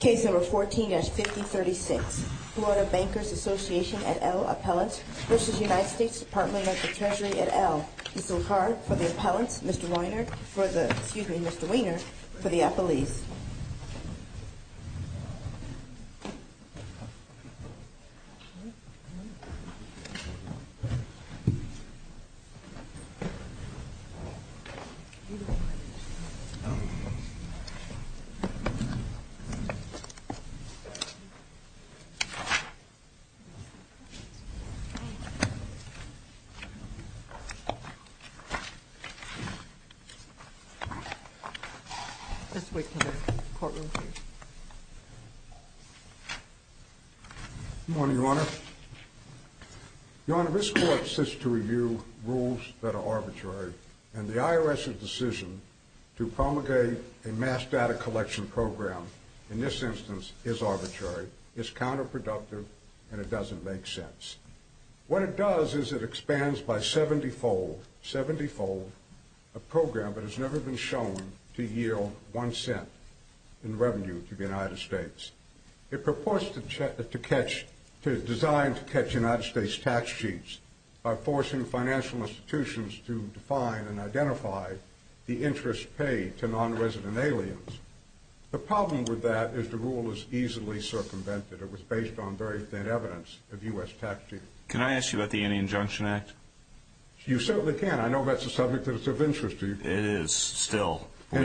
Case number 14-5036. Florida Bankers Association et al. appellant v. United States Department of the Treasury et al. Mr. LaCard for the appellants, Mr. Weiner for the, excuse me, Mr. Weiner for the appellees. Good morning, Your Honor. Your Honor, this court sits to review rules that are arbitrary, and the IRS's decision to promulgate a mass data collection program, in this instance, is arbitrary, is counterproductive, and it doesn't make sense. What it does is it expands by 70-fold, 70-fold, a program that has never been shown to yield one cent in revenue to the United States. It purports to catch, to design to catch United States tax cheats by forcing financial institutions to define and identify the interest paid to non-resident aliens. The problem with that is the rule is easily circumvented. It was based on very thin evidence of U.S. tax cheats. Can I ask you about the Anti-Injunction Act? You certainly can. I know that's a subject that's of interest to you. It is, still. So,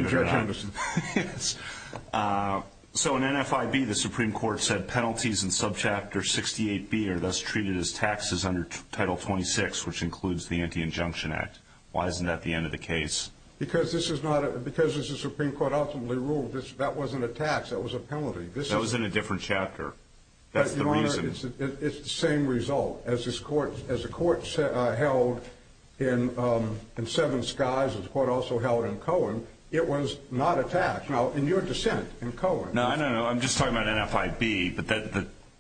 in NFIB, the Supreme Court said penalties in Subchapter 68B are thus treated as taxes under Title 26, which includes the Anti-Injunction Act. Why isn't that the end of the case? Because this is not a, because this is a Supreme Court ultimately rule, that wasn't a tax, that was a penalty. That was in a different chapter. That's the reason. It's the same result. As the Court held in Seven Skies, as the Court also held in Cohen, it was not a tax. Now, in your dissent in Cohen… No, no, no. I'm just talking about NFIB. But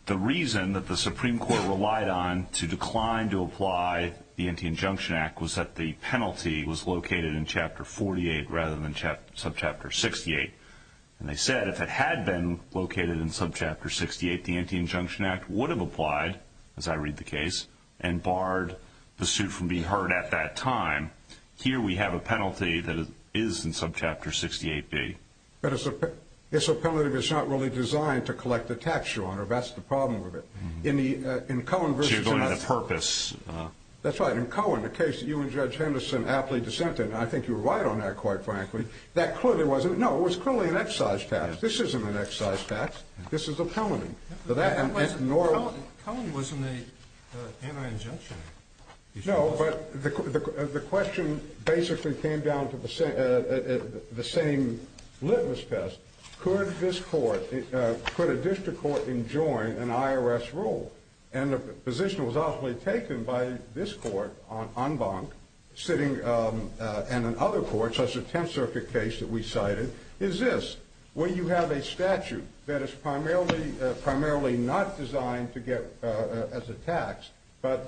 the reason that the Supreme Court relied on to decline to apply the Anti-Injunction Act was that the penalty was located in Chapter 48 rather than Subchapter 68. And they said if it had been located in Subchapter 68, the Anti-Injunction Act would have applied, as I read the case, and barred the suit from being heard at that time. Here we have a penalty that is in Subchapter 68B. But it's a penalty that's not really designed to collect a tax, Your Honor. That's the problem with it. In the, in Cohen versus… So you're going to the purpose. That's right. In Cohen, the case that you and Judge Henderson aptly dissented, and I think you were right on that, quite frankly, that clearly wasn't, no, it was clearly an excise tax. This isn't an excise tax. This is a penalty. Cohen was in the Anti-Injunction Act. No, but the question basically came down to the same litmus test. Could this Court, could a district court enjoin an IRS rule? And the position that was obviously taken by this Court, en banc, sitting, and in other courts, such as the Tenth Circuit case that we cited, is this. When you have a statute that is primarily not designed to get, as a tax, but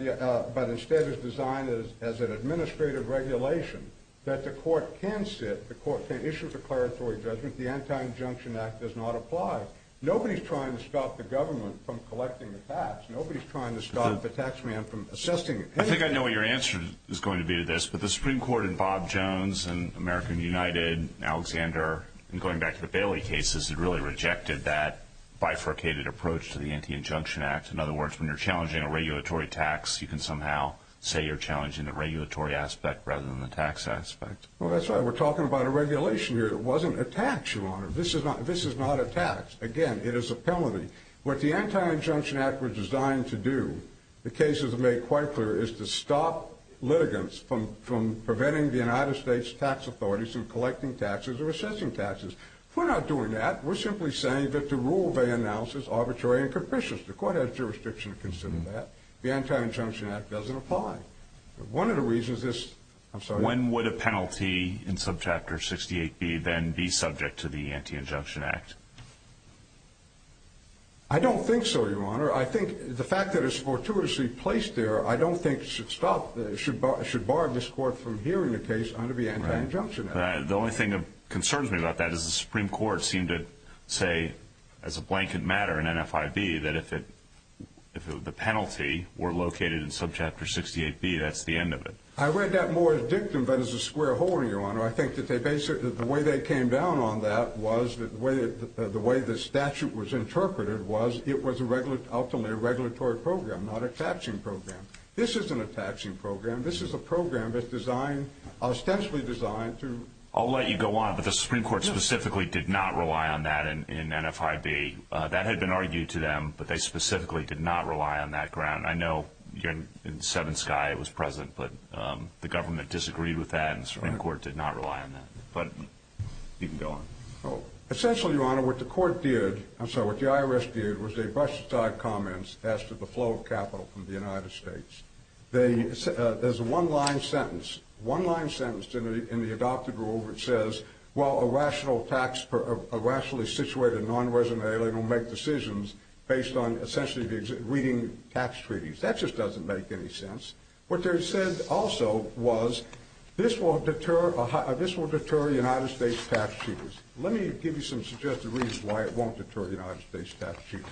instead is designed as an administrative regulation that the Court can sit, the Court can issue a declaratory judgment, the Anti-Injunction Act does not apply. Nobody's trying to stop the government from collecting the tax. Nobody's trying to stop the tax man from assessing anything. I think I know what your answer is going to be to this, but the Supreme Court in Bob Jones and American United, Alexander, and going back to the Bailey cases, it really rejected that bifurcated approach to the Anti-Injunction Act. In other words, when you're challenging a regulatory tax, you can somehow say you're challenging the regulatory aspect rather than the tax aspect. Well, that's right. We're talking about a regulation here that wasn't a tax, Your Honor. This is not a tax. Again, it is a penalty. What the Anti-Injunction Act was designed to do, the cases have made quite clear, is to stop litigants from preventing the United States tax authorities from collecting taxes or assessing taxes. We're not doing that. We're simply saying that the rule they announce is arbitrary and capricious. The Court has jurisdiction to consider that. The Anti-Injunction Act doesn't apply. When would a penalty in Subchapter 68B then be subject to the Anti-Injunction Act? I don't think so, Your Honor. I think the fact that it's fortuitously placed there, I don't think it should bar this Court from hearing a case under the Anti-Injunction Act. The only thing that concerns me about that is the Supreme Court seemed to say, as a blanket matter in NFIB, that if the penalty were located in Subchapter 68B, that's the end of it. I read that more as dictum than as a square hole, Your Honor. I think that the way they came down on that was the way the statute was interpreted was it was ultimately a regulatory program, not a taxing program. This isn't a taxing program. This is a program that's ostensibly designed to... I'll let you go on, but the Supreme Court specifically did not rely on that in NFIB. That had been argued to them, but they specifically did not rely on that ground. I know in Seven Sky it was present, but the government disagreed with that and the Supreme Court did not rely on that. But you can go on. Essentially, Your Honor, what the court did... I'm sorry, what the IRS did was they brushed aside comments as to the flow of capital from the United States. There's a one-line sentence. One-line sentence in the adopted rule which says, while a rationally situated nonresident alien will make decisions based on essentially reading tax treaties. What they said also was this will deter United States tax cheaters. Let me give you some suggested reasons why it won't deter United States tax cheaters.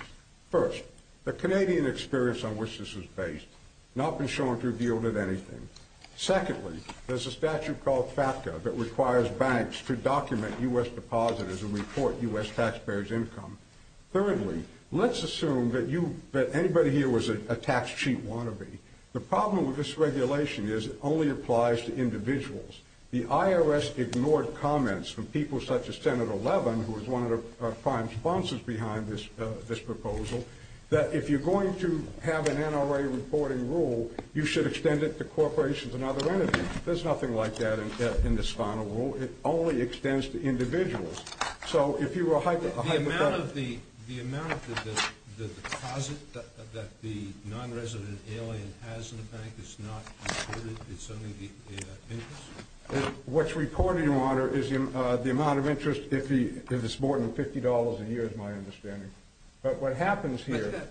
First, the Canadian experience on which this is based has not been shown to have yielded anything. Secondly, there's a statute called FATCA that requires banks to document U.S. depositors and report U.S. taxpayers' income. Thirdly, let's assume that anybody here was a tax cheat wannabe. The problem with this regulation is it only applies to individuals. The IRS ignored comments from people such as Senator Levin, who was one of the prime sponsors behind this proposal, that if you're going to have an NRA reporting rule, you should extend it to corporations and other entities. There's nothing like that in this final rule. It only extends to individuals. The amount of the deposit that the nonresident alien has in the bank is not reported? It's only the interest? What's reported, Your Honor, is the amount of interest if it's more than $50 a year is my understanding. But what happens here...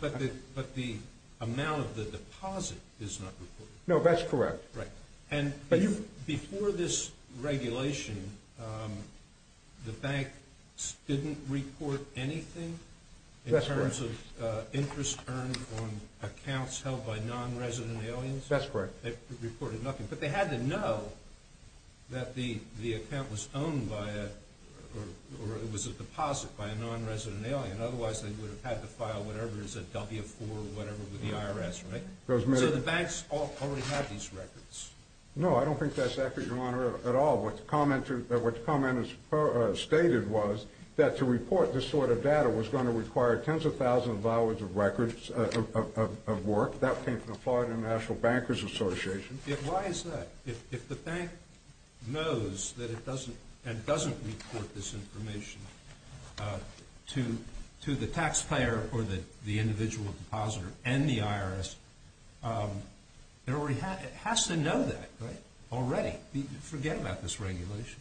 But the amount of the deposit is not reported? No, that's correct. Before this regulation, the banks didn't report anything in terms of interest earned on accounts held by nonresident aliens? That's correct. They reported nothing. But they had to know that the account was owned by a... or it was a deposit by a nonresident alien. Otherwise, they would have had to file whatever is a W-4 or whatever with the IRS, right? So the banks already have these records? No, I don't think that's accurate, Your Honor, at all. What the comment stated was that to report this sort of data was going to require tens of thousands of hours of records of work. That came from the Florida National Bankers Association. Why is that? If the bank knows that it doesn't and doesn't report this information to the taxpayer or the individual depositor and the IRS, it has to know that already. Forget about this regulation.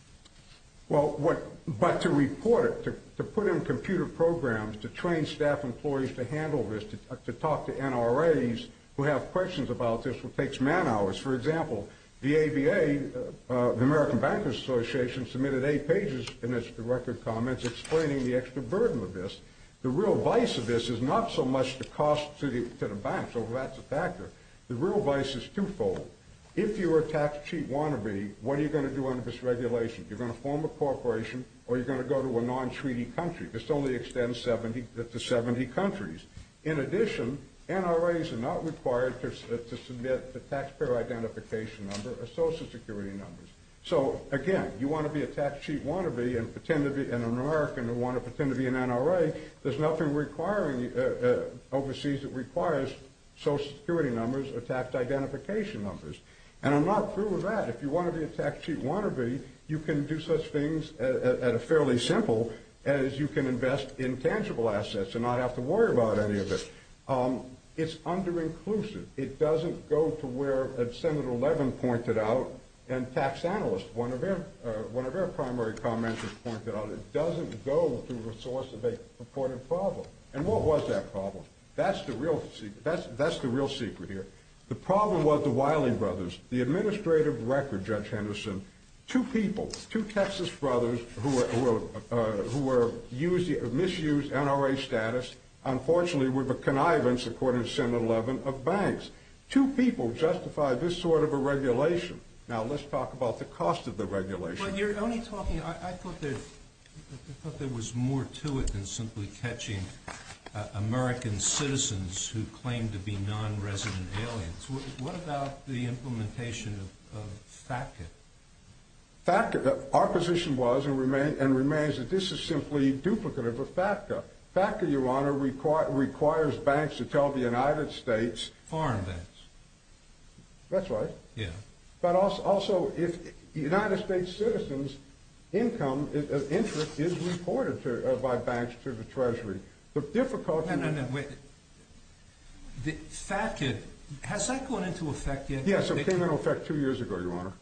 But to report it, to put in computer programs, to train staff employees to handle this, to talk to NRAs who have questions about this, well, it takes man hours. For example, the ABA, the American Bankers Association, submitted eight pages in its record comments explaining the extra burden of this. The real vice of this is not so much the cost to the banks, although that's a factor. The real vice is twofold. If you were a tax-cheap wannabe, what are you going to do under this regulation? You're going to form a corporation or you're going to go to a non-treaty country. This only extends to 70 countries. In addition, NRAs are not required to submit the taxpayer identification number or Social Security numbers. So, again, you want to be a tax-cheap wannabe and an American who wants to pretend to be an NRA, there's nothing required overseas that requires Social Security numbers or tax identification numbers. And I'm not through with that. If you want to be a tax-cheap wannabe, you can do such things at a fairly simple, as you can invest in tangible assets and not have to worry about any of it. It's under-inclusive. It doesn't go to where Senator Levin pointed out and tax analysts, one of their primary comments was pointed out. It doesn't go to the source of a reported problem. And what was that problem? That's the real secret here. The problem was the Wiley brothers. The administrative record, Judge Henderson, two people, two Texas brothers who were misused NRA status, unfortunately were the connivance, according to Senator Levin, of banks. Two people justify this sort of a regulation. Now, let's talk about the cost of the regulation. I thought there was more to it than simply catching American citizens who claim to be non-resident aliens. What about the implementation of FATCA? Our position was and remains that this is simply duplicative of FATCA. FATCA, Your Honor, requires banks to tell the United States. Foreign banks. That's right. Yeah. But also, if United States citizens' income, interest is reported by banks to the Treasury. No, no, no, wait. The FATCA, has that gone into effect yet? Yes, it came into effect two years ago, Your Honor.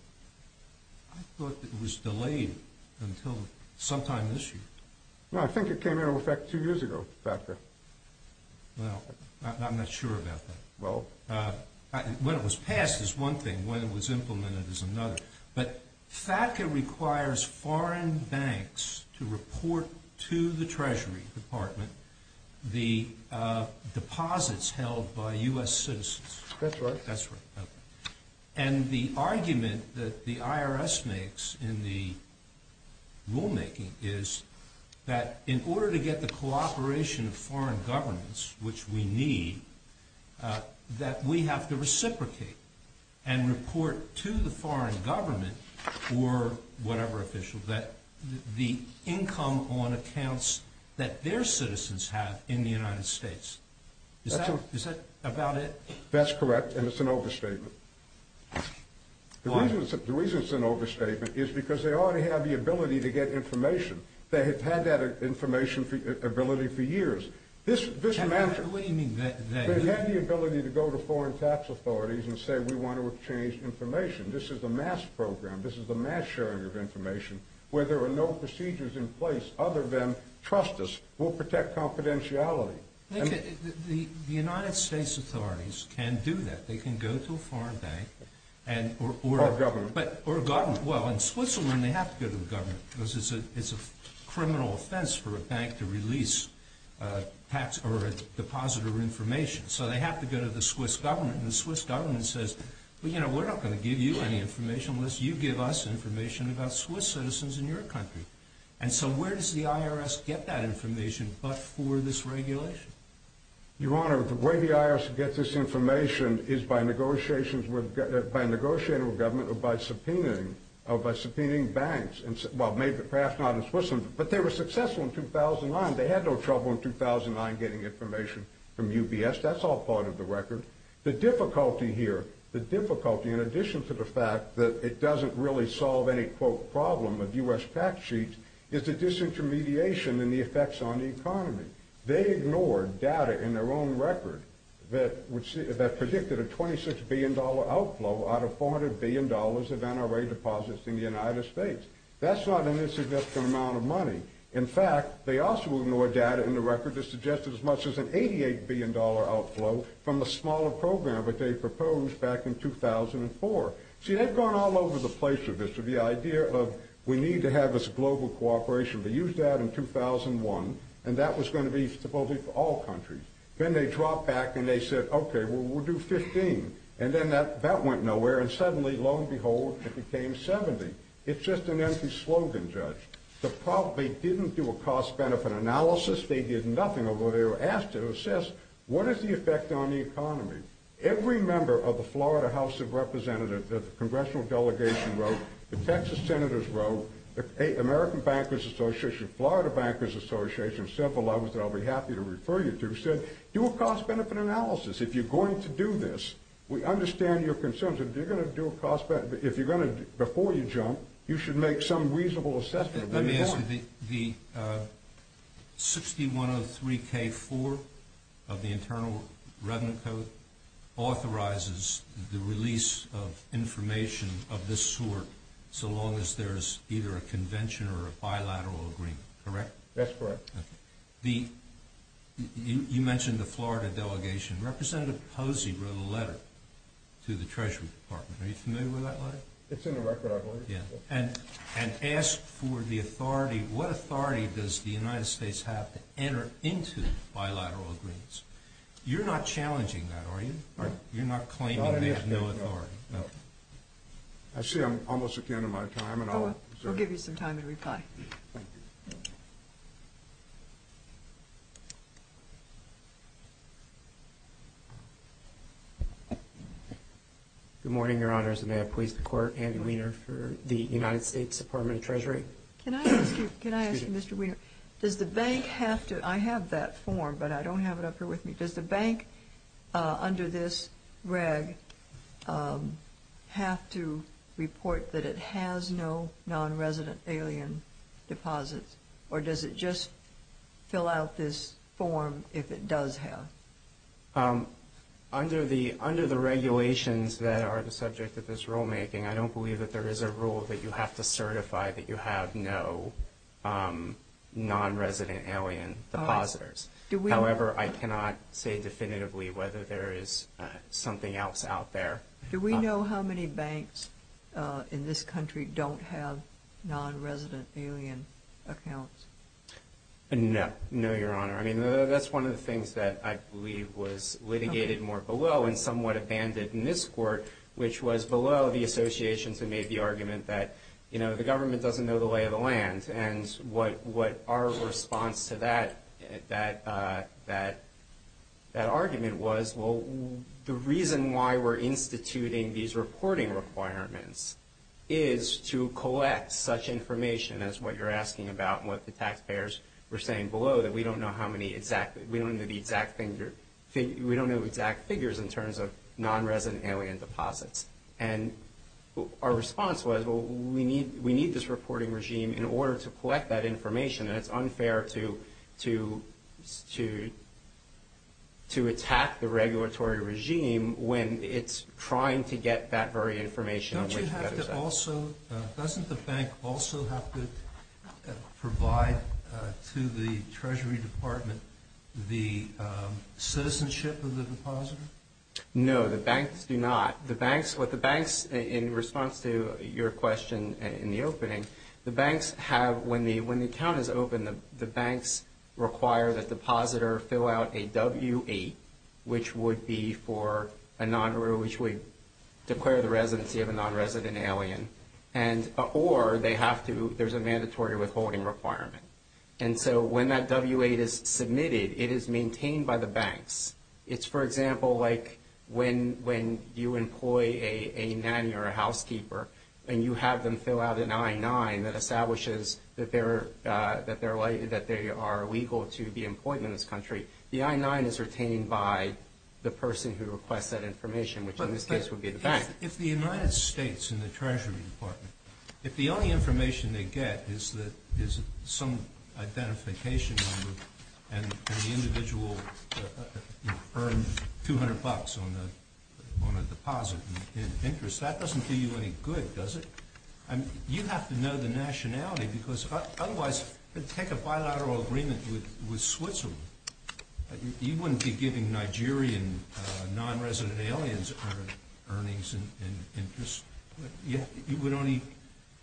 I thought it was delayed until sometime this year. No, I think it came into effect two years ago, FATCA. Well, I'm not sure about that. Well, when it was passed is one thing, when it was implemented is another. But FATCA requires foreign banks to report to the Treasury Department the deposits held by U.S. citizens. That's right. That's right. And the argument that the IRS makes in the rulemaking is that in order to get the cooperation of foreign governments, which we need, that we have to reciprocate and report to the foreign government or whatever official that the income on accounts that their citizens have in the United States. Is that about it? That's correct, and it's an overstatement. The reason it's an overstatement is because they already have the ability to get information. They have had that information ability for years. What do you mean? They have the ability to go to foreign tax authorities and say, we want to exchange information. This is a mass program. This is a mass sharing of information where there are no procedures in place other than, trust us, we'll protect confidentiality. The United States authorities can do that. They can go to a foreign bank. Or a government. Or a government. Well, in Switzerland, they have to go to the government because it's a criminal offense for a bank to release tax or a depositor information, so they have to go to the Swiss government. And the Swiss government says, well, you know, we're not going to give you any information unless you give us information about Swiss citizens in your country. And so where does the IRS get that information but for this regulation? Your Honor, the way the IRS gets this information is by negotiating with government or by subpoenaing banks. Well, perhaps not in Switzerland, but they were successful in 2009. They had no trouble in 2009 getting information from UBS. That's all part of the record. The difficulty here, the difficulty in addition to the fact that it doesn't really solve any, quote, is the disintermediation and the effects on the economy. They ignored data in their own record that predicted a $26 billion outflow out of $400 billion of NRA deposits in the United States. That's not an insignificant amount of money. In fact, they also ignored data in the record that suggested as much as an $88 billion outflow from a smaller program that they proposed back in 2004. See, they've gone all over the place with this, with the idea of we need to have this global cooperation. They used that in 2001, and that was going to be supposedly for all countries. Then they dropped back and they said, okay, well, we'll do 15. And then that went nowhere, and suddenly, lo and behold, it became 70. It's just an empty slogan, Judge. They probably didn't do a cost-benefit analysis. They did nothing, although they were asked to assess what is the effect on the economy. Every member of the Florida House of Representatives, the congressional delegation wrote, the Texas senators wrote, the American Bankers Association, Florida Bankers Association, several others that I'll be happy to refer you to, said, do a cost-benefit analysis. If you're going to do this, we understand your concerns. If you're going to do a cost-benefit, if you're going to, before you jump, you should make some reasonable assessment. Let me ask you, the 6103K4 of the Internal Revenue Code authorizes the release of information of this sort so long as there's either a convention or a bilateral agreement, correct? That's correct. Okay. You mentioned the Florida delegation. Representative Posey wrote a letter to the Treasury Department. Are you familiar with that letter? It's in the record, I believe. And asked for the authority, what authority does the United States have to enter into bilateral agreements? You're not challenging that, are you? No. You're not claiming they have no authority? No. Okay. I see I'm almost at the end of my time. We'll give you some time to reply. Thank you. Good morning, Your Honors. May I please the Court, Andy Wiener for the United States Department of Treasury? Can I ask you, Mr. Wiener, does the bank have to – I have that form, but I don't have it up here with me. Does the bank under this reg have to report that it has no nonresident alien deposits, or does it just fill out this form if it does have? Under the regulations that are the subject of this rulemaking, I don't believe that there is a rule that you have to certify that you have no nonresident alien depositors. However, I cannot say definitively whether there is something else out there. Do we know how many banks in this country don't have nonresident alien accounts? No. No, Your Honor. I mean, that's one of the things that I believe was litigated more below and somewhat abandoned in this Court, which was below the associations that made the argument that, you know, the government doesn't know the lay of the land. And what our response to that argument was, well, the reason why we're instituting these reporting requirements is to collect such information as what you're asking about and what the taxpayers were saying below, that we don't know how many exact – we don't know the exact figure – we don't know exact figures in terms of nonresident alien deposits. And our response was, well, we need this reporting regime in order to collect that information, and it's unfair to attack the regulatory regime when it's trying to get that very information. Doesn't the bank also have to provide to the Treasury Department the citizenship of the depositor? No, the banks do not. The banks – what the banks – in response to your question in the opening, the banks have – when the account is opened, the banks require that the depositor fill out a W-8, which would be for a non – or which would declare the residency of a nonresident alien, and – or they have to – there's a mandatory withholding requirement. And so when that W-8 is submitted, it is maintained by the banks. It's, for example, like when you employ a nanny or a housekeeper and you have them fill out an I-9 that establishes that they're – that they are legal to be employed in this country. The I-9 is retained by the person who requests that information, which in this case would be the bank. But if the United States and the Treasury Department – is some identification number and the individual earned 200 bucks on a deposit in interest, that doesn't do you any good, does it? I mean, you have to know the nationality because otherwise – take a bilateral agreement with Switzerland. You wouldn't be giving Nigerian nonresident aliens earnings and interest. You would only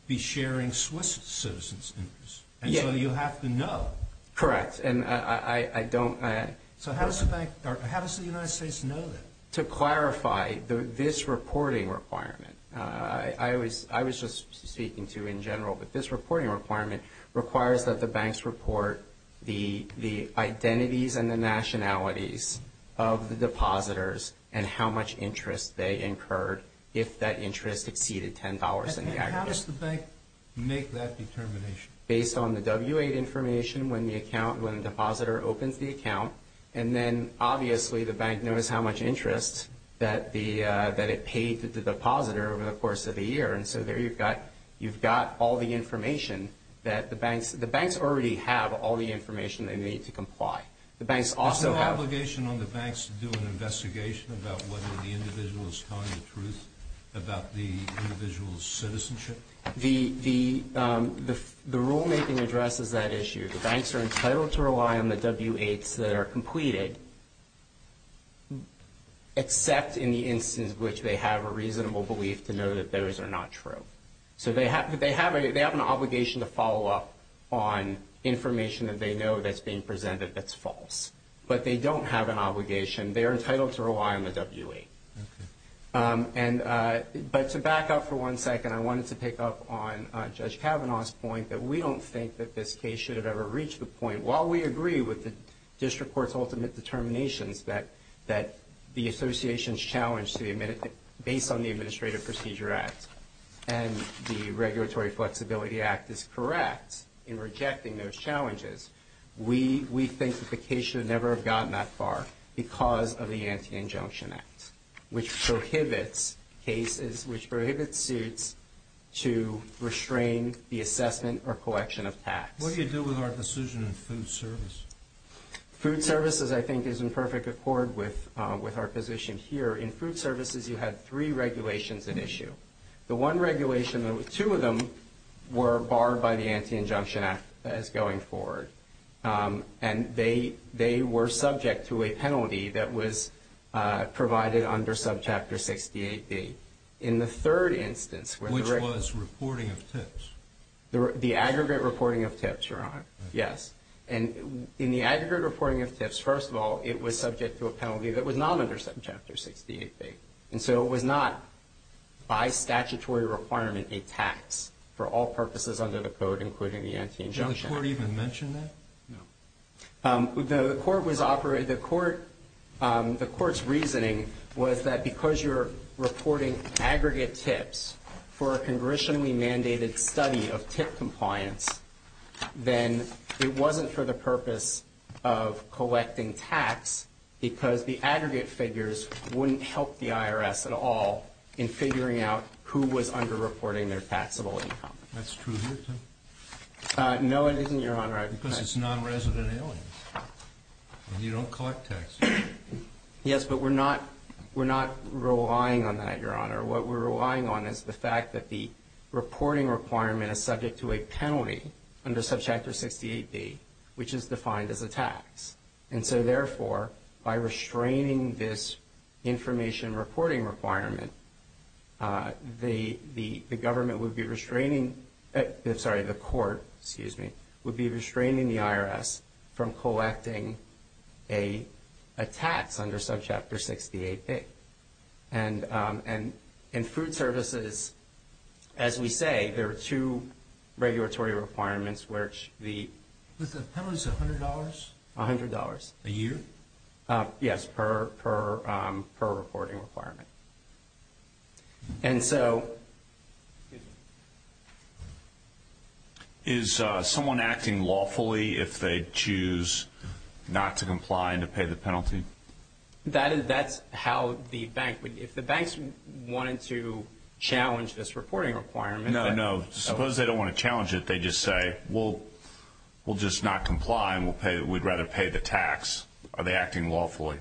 be sharing Swiss citizens' interest. And so you have to know. Correct. And I don't – So how does the bank – or how does the United States know that? To clarify, this reporting requirement – I was just speaking to in general, but this reporting requirement requires that the banks report the identities and the nationalities of the depositors and how much interest they incurred if that interest exceeded $10 in the aggregate. And how does the bank make that determination? Based on the W-8 information when the account – when the depositor opens the account. And then, obviously, the bank knows how much interest that it paid to the depositor over the course of the year. And so there you've got – you've got all the information that the banks – the banks already have all the information they need to comply. The banks also have – about the individual's citizenship? The rulemaking addresses that issue. The banks are entitled to rely on the W-8s that are completed, except in the instance in which they have a reasonable belief to know that those are not true. So they have an obligation to follow up on information that they know that's being presented that's false. But they don't have an obligation. They are entitled to rely on the W-8. But to back up for one second, I wanted to pick up on Judge Kavanaugh's point that we don't think that this case should have ever reached the point, while we agree with the district court's ultimate determinations that the association's challenge to the – based on the Administrative Procedure Act and the Regulatory Flexibility Act is correct in rejecting those challenges, we think that the case should never have gotten that far because of the Anti-Injunction Act, which prohibits cases – which prohibits suits to restrain the assessment or collection of tax. What do you do with our decision in food service? Food services, I think, is in perfect accord with our position here. In food services, you had three regulations at issue. The one regulation – two of them were barred by the Anti-Injunction Act as going forward. And they were subject to a penalty that was provided under Subchapter 68B. In the third instance – Which was reporting of tips. The aggregate reporting of tips, Your Honor. Yes. And in the aggregate reporting of tips, first of all, it was subject to a penalty that was not under Subchapter 68B. And so it was not by statutory requirement a tax for all purposes under the Code, including the Anti-Injunction Act. Did the Court even mention that? No. The Court's reasoning was that because you're reporting aggregate tips for a congressionally mandated study of tip compliance, then it wasn't for the purpose of collecting tax because the aggregate figures wouldn't help the IRS at all in figuring out who was underreporting their taxable income. That's true here, too? No, it isn't, Your Honor. Because it's nonresident alien. You don't collect taxes. Yes, but we're not relying on that, Your Honor. What we're relying on is the fact that the reporting requirement is subject to a penalty under Subchapter 68B, which is defined as a tax. And so, therefore, by restraining this information reporting requirement, the Government would be restraining— I'm sorry, the Court, excuse me, would be restraining the IRS from collecting a tax under Subchapter 68B. And in food services, as we say, there are two regulatory requirements, which the— Was the penalty $100? $100. A year? Yes, per reporting requirement. And so— Is someone acting lawfully if they choose not to comply and to pay the penalty? That's how the bank would— if the banks wanted to challenge this reporting requirement— No, no, suppose they don't want to challenge it. They just say, well, we'll just not comply and we'd rather pay the tax. Are they acting lawfully?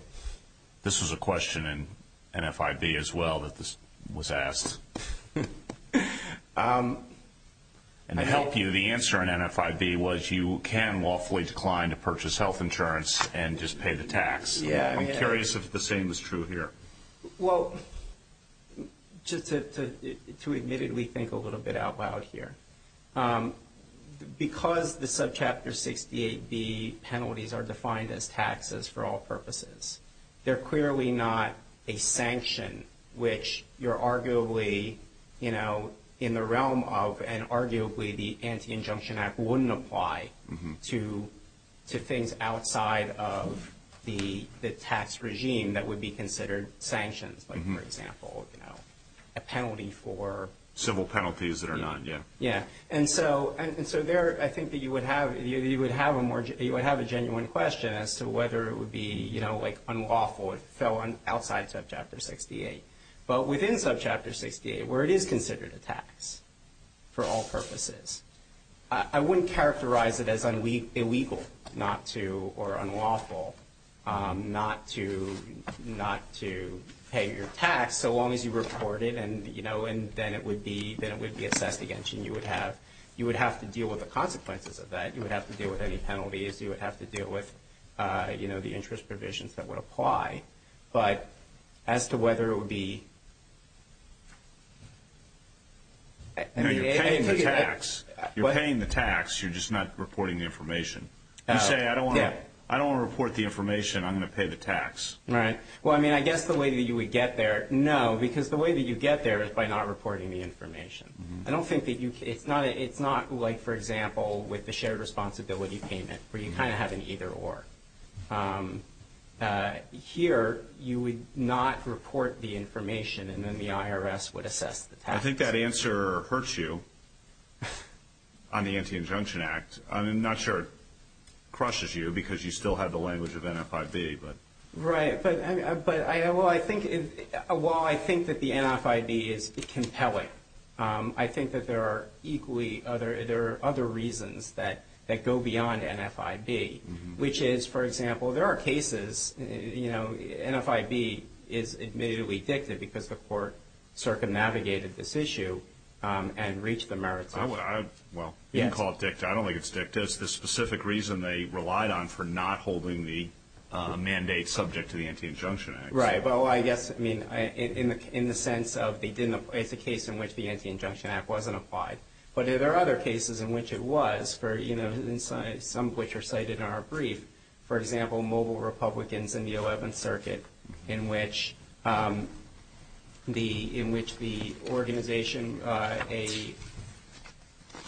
This was a question in NFIB as well that was asked. And to help you, the answer in NFIB was you can lawfully decline to purchase health insurance and just pay the tax. I'm curious if the same is true here. Well, just to admittedly think a little bit out loud here, because the Subchapter 68B penalties are defined as taxes for all purposes, they're clearly not a sanction, which you're arguably, you know, in the realm of and arguably the Anti-Injunction Act wouldn't apply to things outside of the tax regime that would be considered sanctions, like, for example, you know, a penalty for— Civil penalties that are not, yeah. Yeah. And so there I think that you would have a more— you would have a genuine question as to whether it would be, you know, like unlawful if it fell outside Subchapter 68. But within Subchapter 68, where it is considered a tax for all purposes, I wouldn't characterize it as illegal or unlawful not to pay your tax, so long as you report it and, you know, and then it would be assessed again. You would have to deal with the consequences of that. You would have to deal with any penalties. You would have to deal with, you know, the interest provisions that would apply. But as to whether it would be— No, you're paying the tax. You're paying the tax. You're just not reporting the information. You say, I don't want to report the information. I'm going to pay the tax. Right. Well, I mean, I guess the way that you would get there, no, because the way that you get there is by not reporting the information. I don't think that you—it's not like, for example, with the shared responsibility payment where you kind of have an either or. Here, you would not report the information, and then the IRS would assess the tax. I think that answer hurts you on the Anti-Injunction Act. I'm not sure it crushes you because you still have the language of NFIB, but— Right. But, well, I think that the NFIB is compelling. I think that there are equally other—there are other reasons that go beyond NFIB, which is, for example, there are cases, you know, NFIB is admittedly dictated because the court circumnavigated this issue and reached the merits of— Well, you can call it dicta. I don't think it's dicta. It's the specific reason they relied on for not holding the mandate subject to the Anti-Injunction Act. Right. Well, I guess, I mean, in the sense of they didn't— it's a case in which the Anti-Injunction Act wasn't applied. But there are other cases in which it was, you know, some of which are cited in our brief. For example, Mobile Republicans in the 11th Circuit, in which the organization,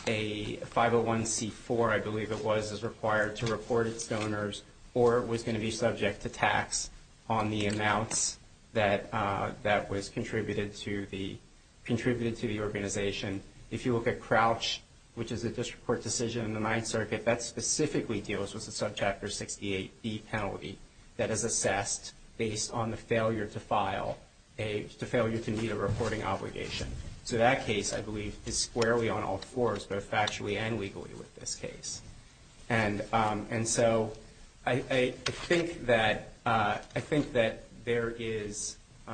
a 501c4, I believe it was, is required to report its donors or was going to be subject to tax on the amounts that was contributed to the organization. If you look at Crouch, which is a district court decision in the 9th Circuit, that specifically deals with the Subchapter 68B penalty that is assessed based on the failure to file— the failure to meet a reporting obligation. So that case, I believe, is squarely on all fours, both factually and legally with this case. And so I think that there is—the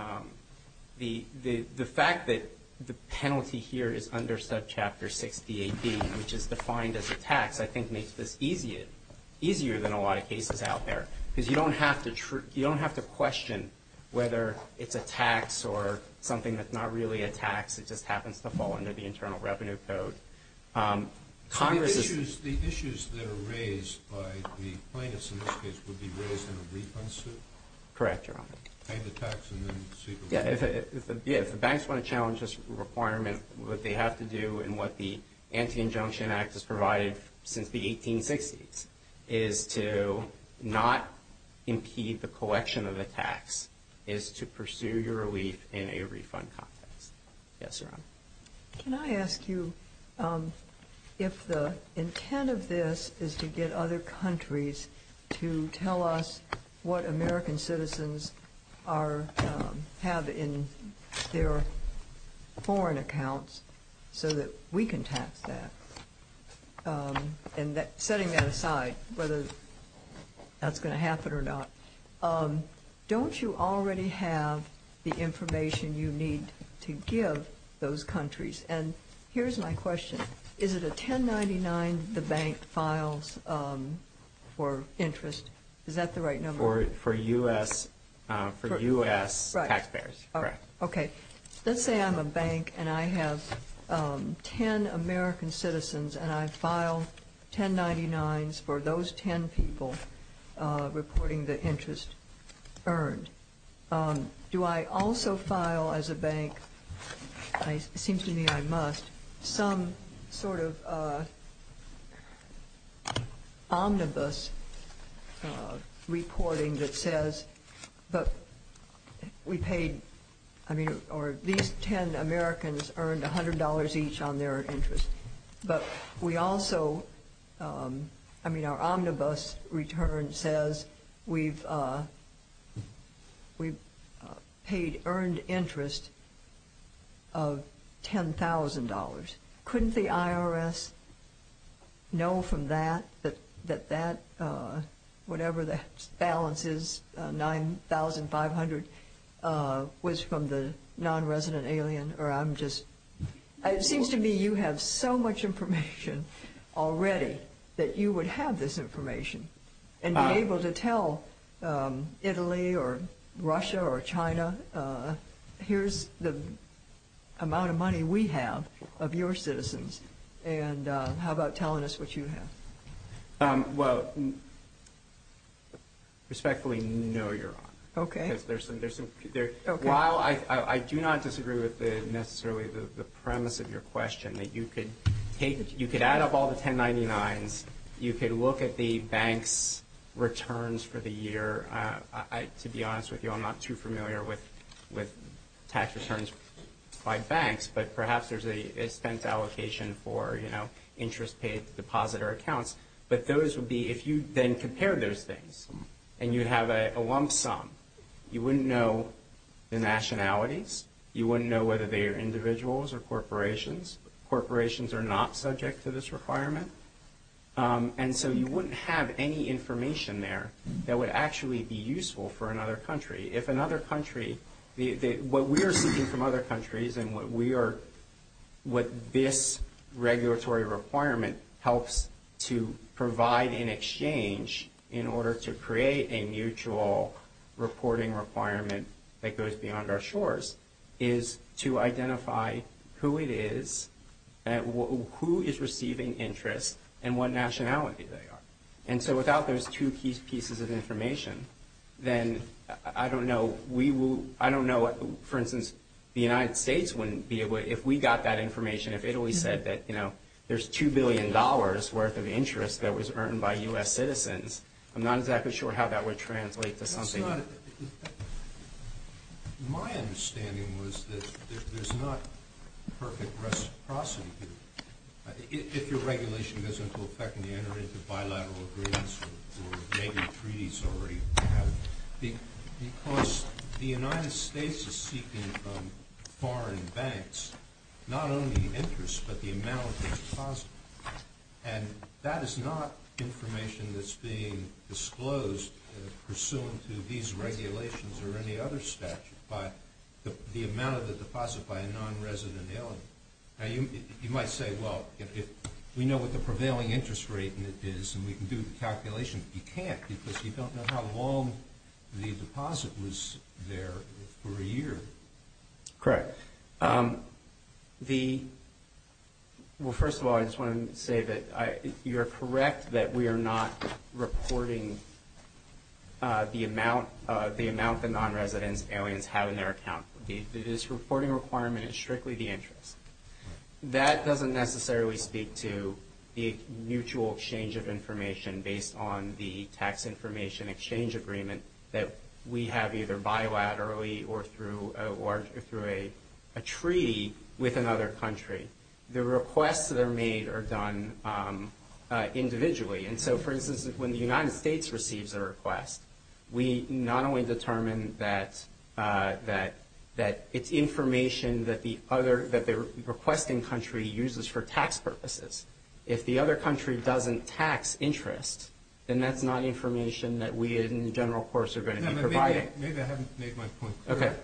fact that the penalty here is under Subchapter 68B, which is defined as a tax, I think makes this easier than a lot of cases out there. Because you don't have to question whether it's a tax or something that's not really a tax. It just happens to fall under the Internal Revenue Code. So the issues that are raised by the plaintiffs in this case would be raised in a refund suit? Correct, Your Honor. Pay the tax and then see if it works. Yeah, if the banks want to challenge this requirement, what they have to do and what the Anti-Injunction Act has provided since the 1860s is to not impede the collection of the tax, is to pursue your relief in a refund context. Yes, Your Honor. Can I ask you if the intent of this is to get other countries to tell us what American citizens have in their foreign accounts so that we can tax that? And setting that aside, whether that's going to happen or not, don't you already have the information you need to give those countries? And here's my question. Is it a 1099 the bank files for interest? Is that the right number? For U.S. taxpayers. Okay. Let's say I'm a bank and I have 10 American citizens and I file 1099s for those 10 people reporting the interest earned. Do I also file as a bank, it seems to me I must, some sort of omnibus reporting that says, or at least 10 Americans earned $100 each on their interest. But we also, I mean our omnibus return says we've paid earned interest of $10,000. Couldn't the IRS know from that that that whatever that balance is, $9,500 was from the nonresident alien or I'm just, it seems to me you have so much information already that you would have this information and be able to tell Italy or Russia or China, here's the amount of money we have of your citizens and how about telling us what you have? Well, respectfully, no, Your Honor. Okay. While I do not disagree with necessarily the premise of your question, that you could add up all the 1099s, you could look at the bank's returns for the year. To be honest with you, I'm not too familiar with tax returns by banks, but perhaps there's an expense allocation for, you know, interest paid depositor accounts. But those would be, if you then compare those things and you have a lump sum, you wouldn't know the nationalities, you wouldn't know whether they are individuals or corporations. Corporations are not subject to this requirement. And so you wouldn't have any information there that would actually be useful for another country. If another country, what we are seeking from other countries and what this regulatory requirement helps to provide in exchange in order to create a mutual reporting requirement that goes beyond our shores is to identify who it is, who is receiving interest, and what nationality they are. And so without those two key pieces of information, then I don't know. We will, I don't know, for instance, the United States wouldn't be able to, if we got that information, if Italy said that, you know, there's $2 billion worth of interest that was earned by U.S. citizens, I'm not exactly sure how that would translate to something. My understanding was that there's not perfect reciprocity here. If your regulation goes into effect and you enter into bilateral agreements or maybe treaties already, because the United States is seeking from foreign banks not only interest but the amount that's positive. And that is not information that's being disclosed pursuant to these regulations or any other statute, but the amount of the deposit by a nonresident alien. You might say, well, if we know what the prevailing interest rate is and we can do the calculation, but you can't because you don't know how long the deposit was there for a year. Correct. Well, first of all, I just want to say that you are correct that we are not reporting the amount the nonresidents aliens have in their account. This reporting requirement is strictly the interest. That doesn't necessarily speak to the mutual exchange of information based on the tax information exchange agreement that we have either bilaterally or through a treaty with another country. The requests that are made are done individually. And so, for instance, when the United States receives a request, we not only determine that it's information that the requesting country uses for tax purposes. If the other country doesn't tax interest, then that's not information that we in the general course are going to be providing. Maybe I haven't made my point clear.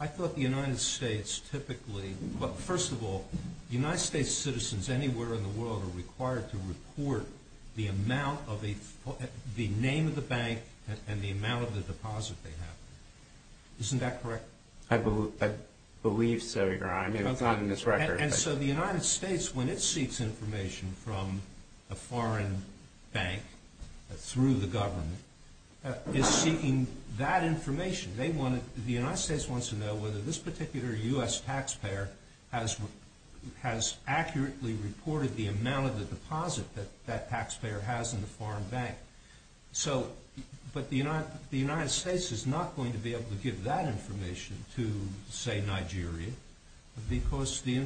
I thought the United States typically – well, first of all, the United States citizens anywhere in the world are required to report the amount of a – the name of the bank and the amount of the deposit they have. Isn't that correct? I believe so, Your Honor. I mean, it's not in this record. And so the United States, when it seeks information from a foreign bank through the government, is seeking that information. They want to – the United States wants to know whether this particular U.S. taxpayer has accurately reported the amount of the deposit that that taxpayer has in the foreign bank. So – but the United States is not going to be able to give that information to, say, Nigeria because the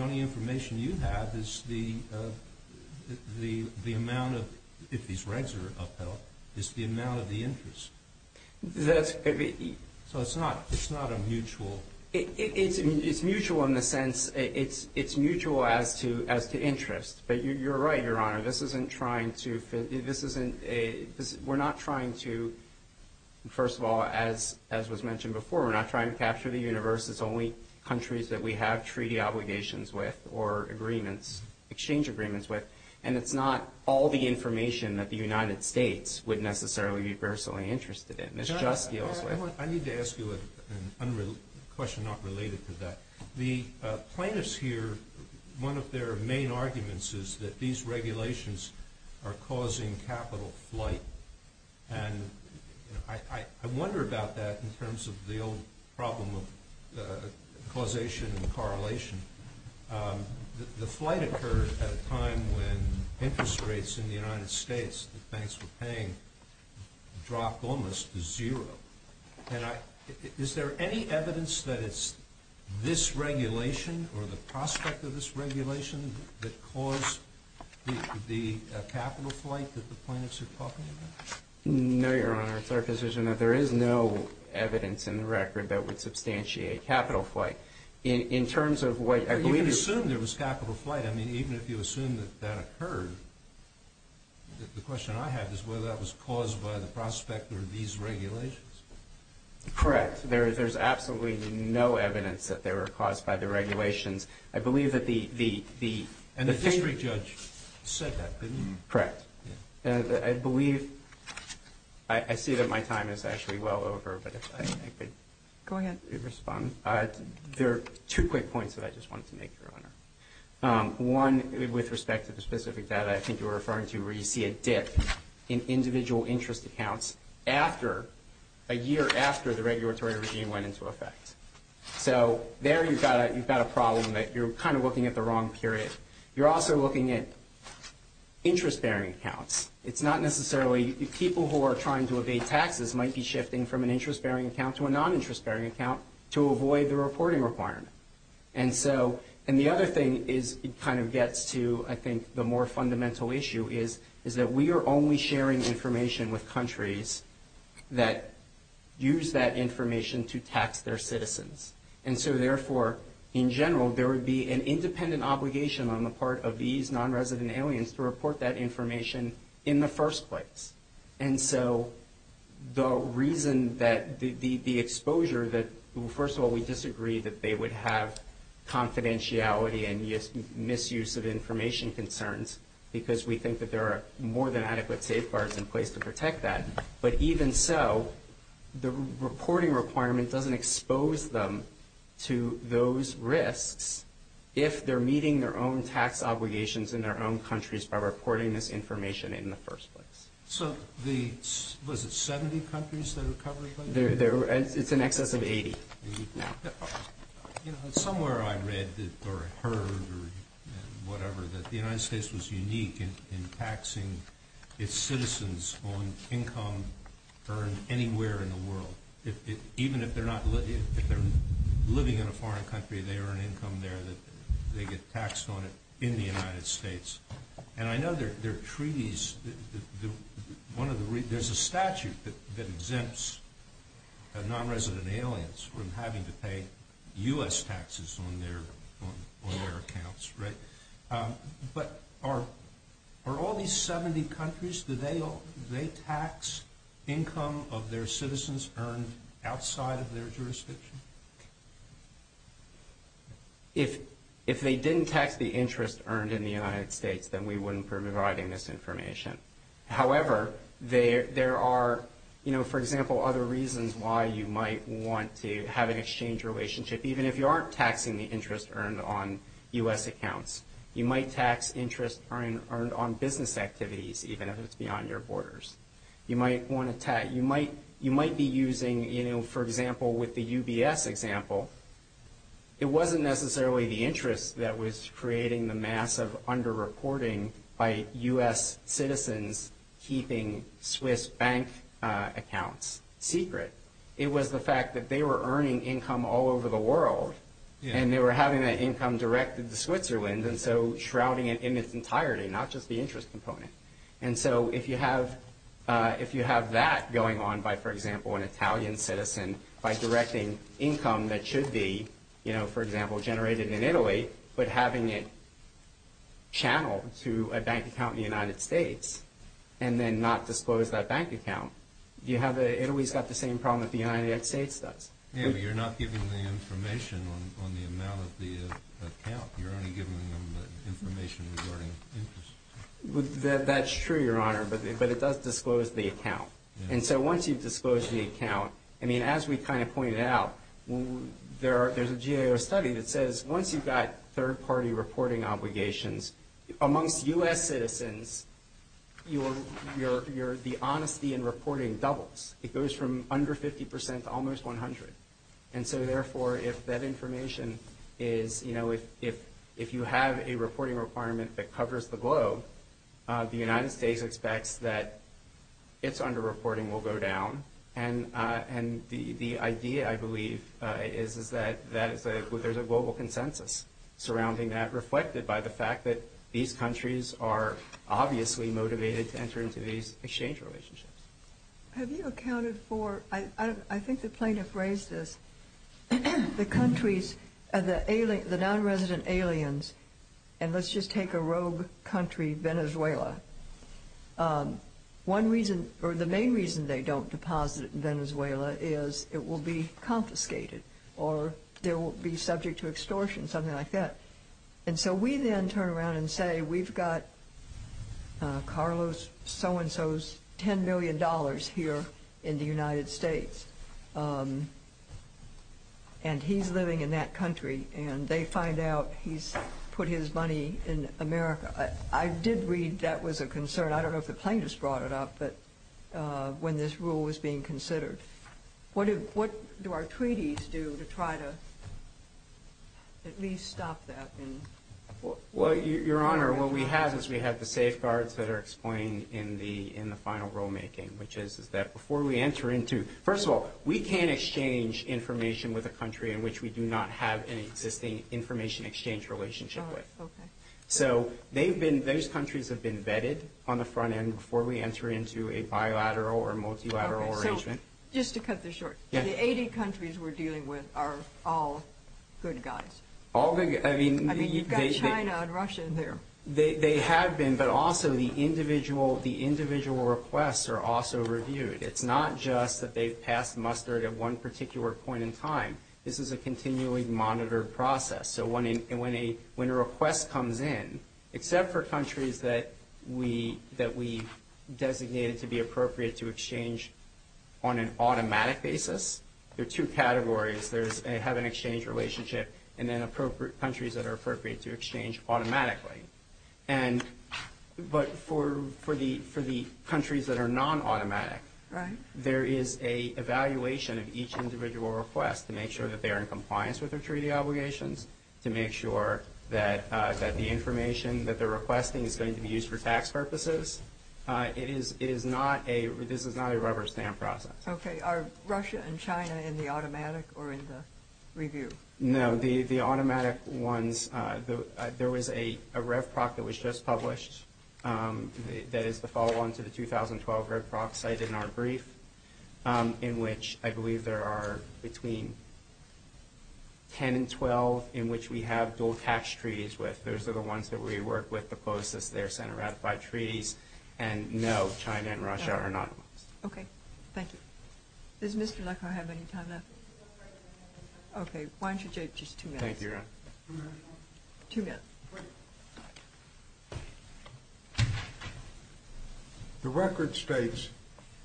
only information you have is the amount of – if these regs are upheld, it's the amount of the interest. So it's not a mutual – It's mutual in the sense – it's mutual as to interest. But you're right, Your Honor. This isn't trying to – this isn't – we're not trying to – first of all, as was mentioned before, we're not trying to capture the universe. It's only countries that we have treaty obligations with or agreements – exchange agreements with. And it's not all the information that the United States would necessarily be personally interested in. This just deals with – I need to ask you a question not related to that. The plaintiffs here, one of their main arguments is that these regulations are causing capital flight. And I wonder about that in terms of the old problem of causation and correlation. The flight occurred at a time when interest rates in the United States that banks were paying dropped almost to zero. And I – is there any evidence that it's this regulation or the prospect of this regulation that caused the capital flight that the plaintiffs are talking about? No, Your Honor. It's our position that there is no evidence in the record that would substantiate capital flight. In terms of what I believe is – But you assume there was capital flight. I mean, even if you assume that that occurred, the question I have is whether that was caused by the prospect or these regulations. Correct. There's absolutely no evidence that they were caused by the regulations. I believe that the – And the district judge said that, didn't he? Correct. I believe – I see that my time is actually well over, but if I could respond. Go ahead. There are two quick points that I just wanted to make, Your Honor. One, with respect to the specific data I think you were referring to, where you see a dip in individual interest accounts after – a year after the regulatory regime went into effect. So there you've got a problem that you're kind of looking at the wrong period. You're also looking at interest-bearing accounts. It's not necessarily – people who are trying to evade taxes might be shifting from an interest-bearing account to a non-interest-bearing account to avoid the reporting requirement. And so – and the other thing is it kind of gets to, I think, the more fundamental issue, is that we are only sharing information with countries that use that information to tax their citizens. And so, therefore, in general, there would be an independent obligation on the part of these non-resident aliens to report that information in the first place. And so the reason that the exposure that – first of all, we disagree that they would have confidentiality and misuse of information concerns because we think that there are more than adequate safeguards in place to protect that. But even so, the reporting requirement doesn't expose them to those risks if they're meeting their own tax obligations in their own countries by reporting this information in the first place. So the – was it 70 countries that are covered by this? It's in excess of 80. Somewhere I read or heard or whatever that the United States was unique in taxing its citizens on income earned anywhere in the world. Even if they're not – if they're living in a foreign country, they earn income there that they get taxed on it in the United States. And I know there are treaties – one of the – there's a statute that exempts non-resident aliens from having to pay U.S. taxes on their accounts, right? But are all these 70 countries, do they tax income of their citizens earned outside of their jurisdiction? If they didn't tax the interest earned in the United States, then we wouldn't be providing this information. However, there are, you know, for example, other reasons why you might want to have an exchange relationship, even if you aren't taxing the interest earned on U.S. accounts. You might tax interest earned on business activities, even if it's beyond your borders. You might want to – you might be using, you know, for example, with the UBS example, it wasn't necessarily the interest that was creating the massive under-reporting by U.S. citizens keeping Swiss bank accounts secret. It was the fact that they were earning income all over the world, and they were having that income directed to Switzerland, and so shrouding it in its entirety, not just the interest component. And so if you have – if you have that going on by, for example, an Italian citizen, by directing income that should be, you know, for example, generated in Italy, but having it channeled to a bank account in the United States, and then not disclose that bank account, you have – Italy's got the same problem that the United States does. Yeah, but you're not giving the information on the amount of the account. You're only giving them the information regarding interest. That's true, Your Honor, but it does disclose the account. And so once you've disclosed the account – I mean, as we kind of pointed out, there's a GAO study that says once you've got third-party reporting obligations, amongst U.S. citizens, your – the honesty in reporting doubles. It goes from under 50 percent to almost 100. And so, therefore, if that information is – you know, if you have a reporting requirement that covers the globe, the United States expects that its underreporting will go down. And the idea, I believe, is that that is a – there's a global consensus surrounding that, reflected by the fact that these countries are obviously motivated to enter into these exchange relationships. Have you accounted for – I think the plaintiff raised this. The countries – the nonresident aliens – and let's just take a rogue country, Venezuela. One reason – or the main reason they don't deposit in Venezuela is it will be confiscated or they will be subject to extortion, something like that. And so we then turn around and say we've got Carlos so-and-so's $10 million here in the United States, and he's living in that country, and they find out he's put his money in America. I did read that was a concern. I don't know if the plaintiff's brought it up, but – when this rule was being considered. What do our treaties do to try to at least stop that? Well, Your Honor, what we have is we have the safeguards that are explained in the final rulemaking, which is that before we enter into – first of all, we can't exchange information with a country in which we do not have an existing information exchange relationship with. Oh, okay. So they've been – those countries have been vetted on the front end before we enter into a bilateral or multilateral arrangement. Okay, so just to cut this short, the 80 countries we're dealing with are all good guys? All good – I mean, they – I mean, you've got China and Russia there. They have been, but also the individual requests are also reviewed. It's not just that they've passed mustard at one particular point in time. This is a continually monitored process. So when a request comes in, except for countries that we designated to be appropriate to exchange on an automatic basis, there are two categories. There's a have an exchange relationship and then appropriate – countries that are appropriate to exchange automatically. And – but for the countries that are non-automatic, there is an evaluation of each individual request to make sure that they are in compliance with their treaty obligations, to make sure that the information that they're requesting is going to be used for tax purposes. It is not a – this is not a rubber stamp process. Okay. Are Russia and China in the automatic or in the review? No. The automatic ones – there was a REVPROC that was just published that is the follow-on to the 2012 REVPROC cited in our brief in which I believe there are between 10 and 12 in which we have dual tax treaties with. Those are the ones that we work with the closest. They're Senate ratified treaties. And no, China and Russia are not. Okay. Thank you. Does Mr. Leckow have any time left? Okay. Why don't you take just two minutes? Thank you, Your Honor. Two minutes. Two minutes. Wait. The record states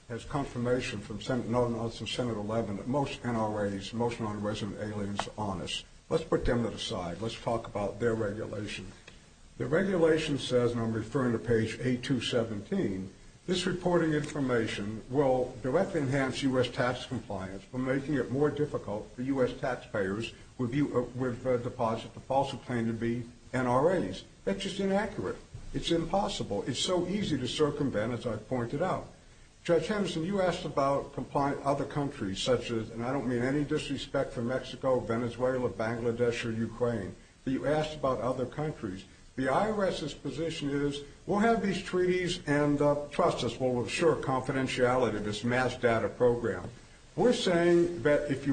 as confirmation from Senate 11 that most NRAs, most non-resident aliens are honest. Let's put them to the side. Let's talk about their regulation. The regulation says, and I'm referring to page 8217, this reporting information will directly enhance U.S. tax compliance by making it more difficult for U.S. taxpayers with deposit to falsely claim to be NRAs. That's just inaccurate. It's impossible. It's so easy to circumvent, as I've pointed out. Judge Henderson, you asked about other countries such as, and I don't mean any disrespect for Mexico, Venezuela, Bangladesh, or Ukraine, but you asked about other countries. The IRS's position is we'll have these treaties and trust us we'll assure confidentiality to this mass data program. We're saying that if the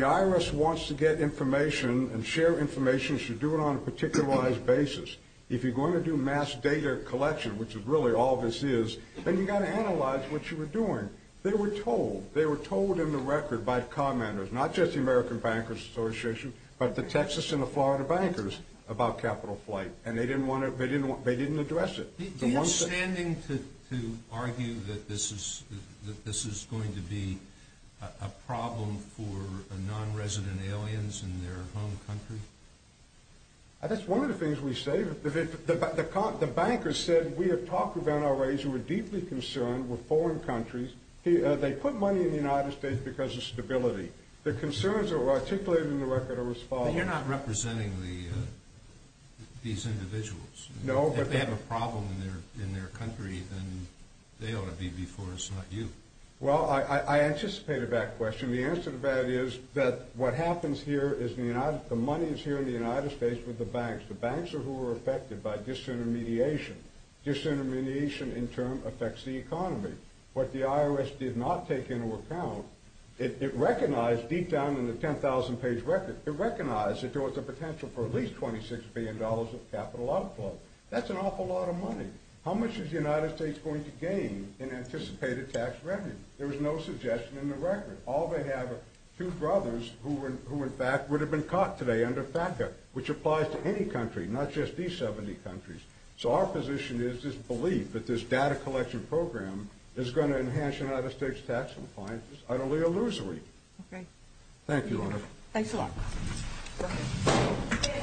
IRS wants to get information and share information, you should do it on a particularized basis. If you're going to do mass data collection, which is really all this is, then you've got to analyze what you were doing. They were told. They were told in the record by commanders, not just the American Bankers Association, but the Texas and the Florida bankers about capital flight, and they didn't address it. Do you have standing to argue that this is going to be a problem for nonresident aliens in their home country? That's one of the things we say. The bankers said we have talked with NRAs who are deeply concerned with foreign countries. They put money in the United States because of stability. The concerns articulated in the record are as follows. You're not representing these individuals. If they have a problem in their country, then they ought to be before us, not you. Well, I anticipated that question. The answer to that is that what happens here is the money is here in the United States with the banks. The banks are who are affected by disintermediation. Disintermediation in turn affects the economy. What the IRS did not take into account, it recognized deep down in the 10,000-page record, it recognized that there was a potential for at least $26 billion of capital outflow. That's an awful lot of money. How much is the United States going to gain in anticipated tax revenue? There was no suggestion in the record. All they have are two brothers who in fact would have been caught today under FATCA, which applies to any country, not just these 70 countries. So our position is this belief that this data collection program is going to enhance United States tax compliance is utterly illusory. Thank you, Honor.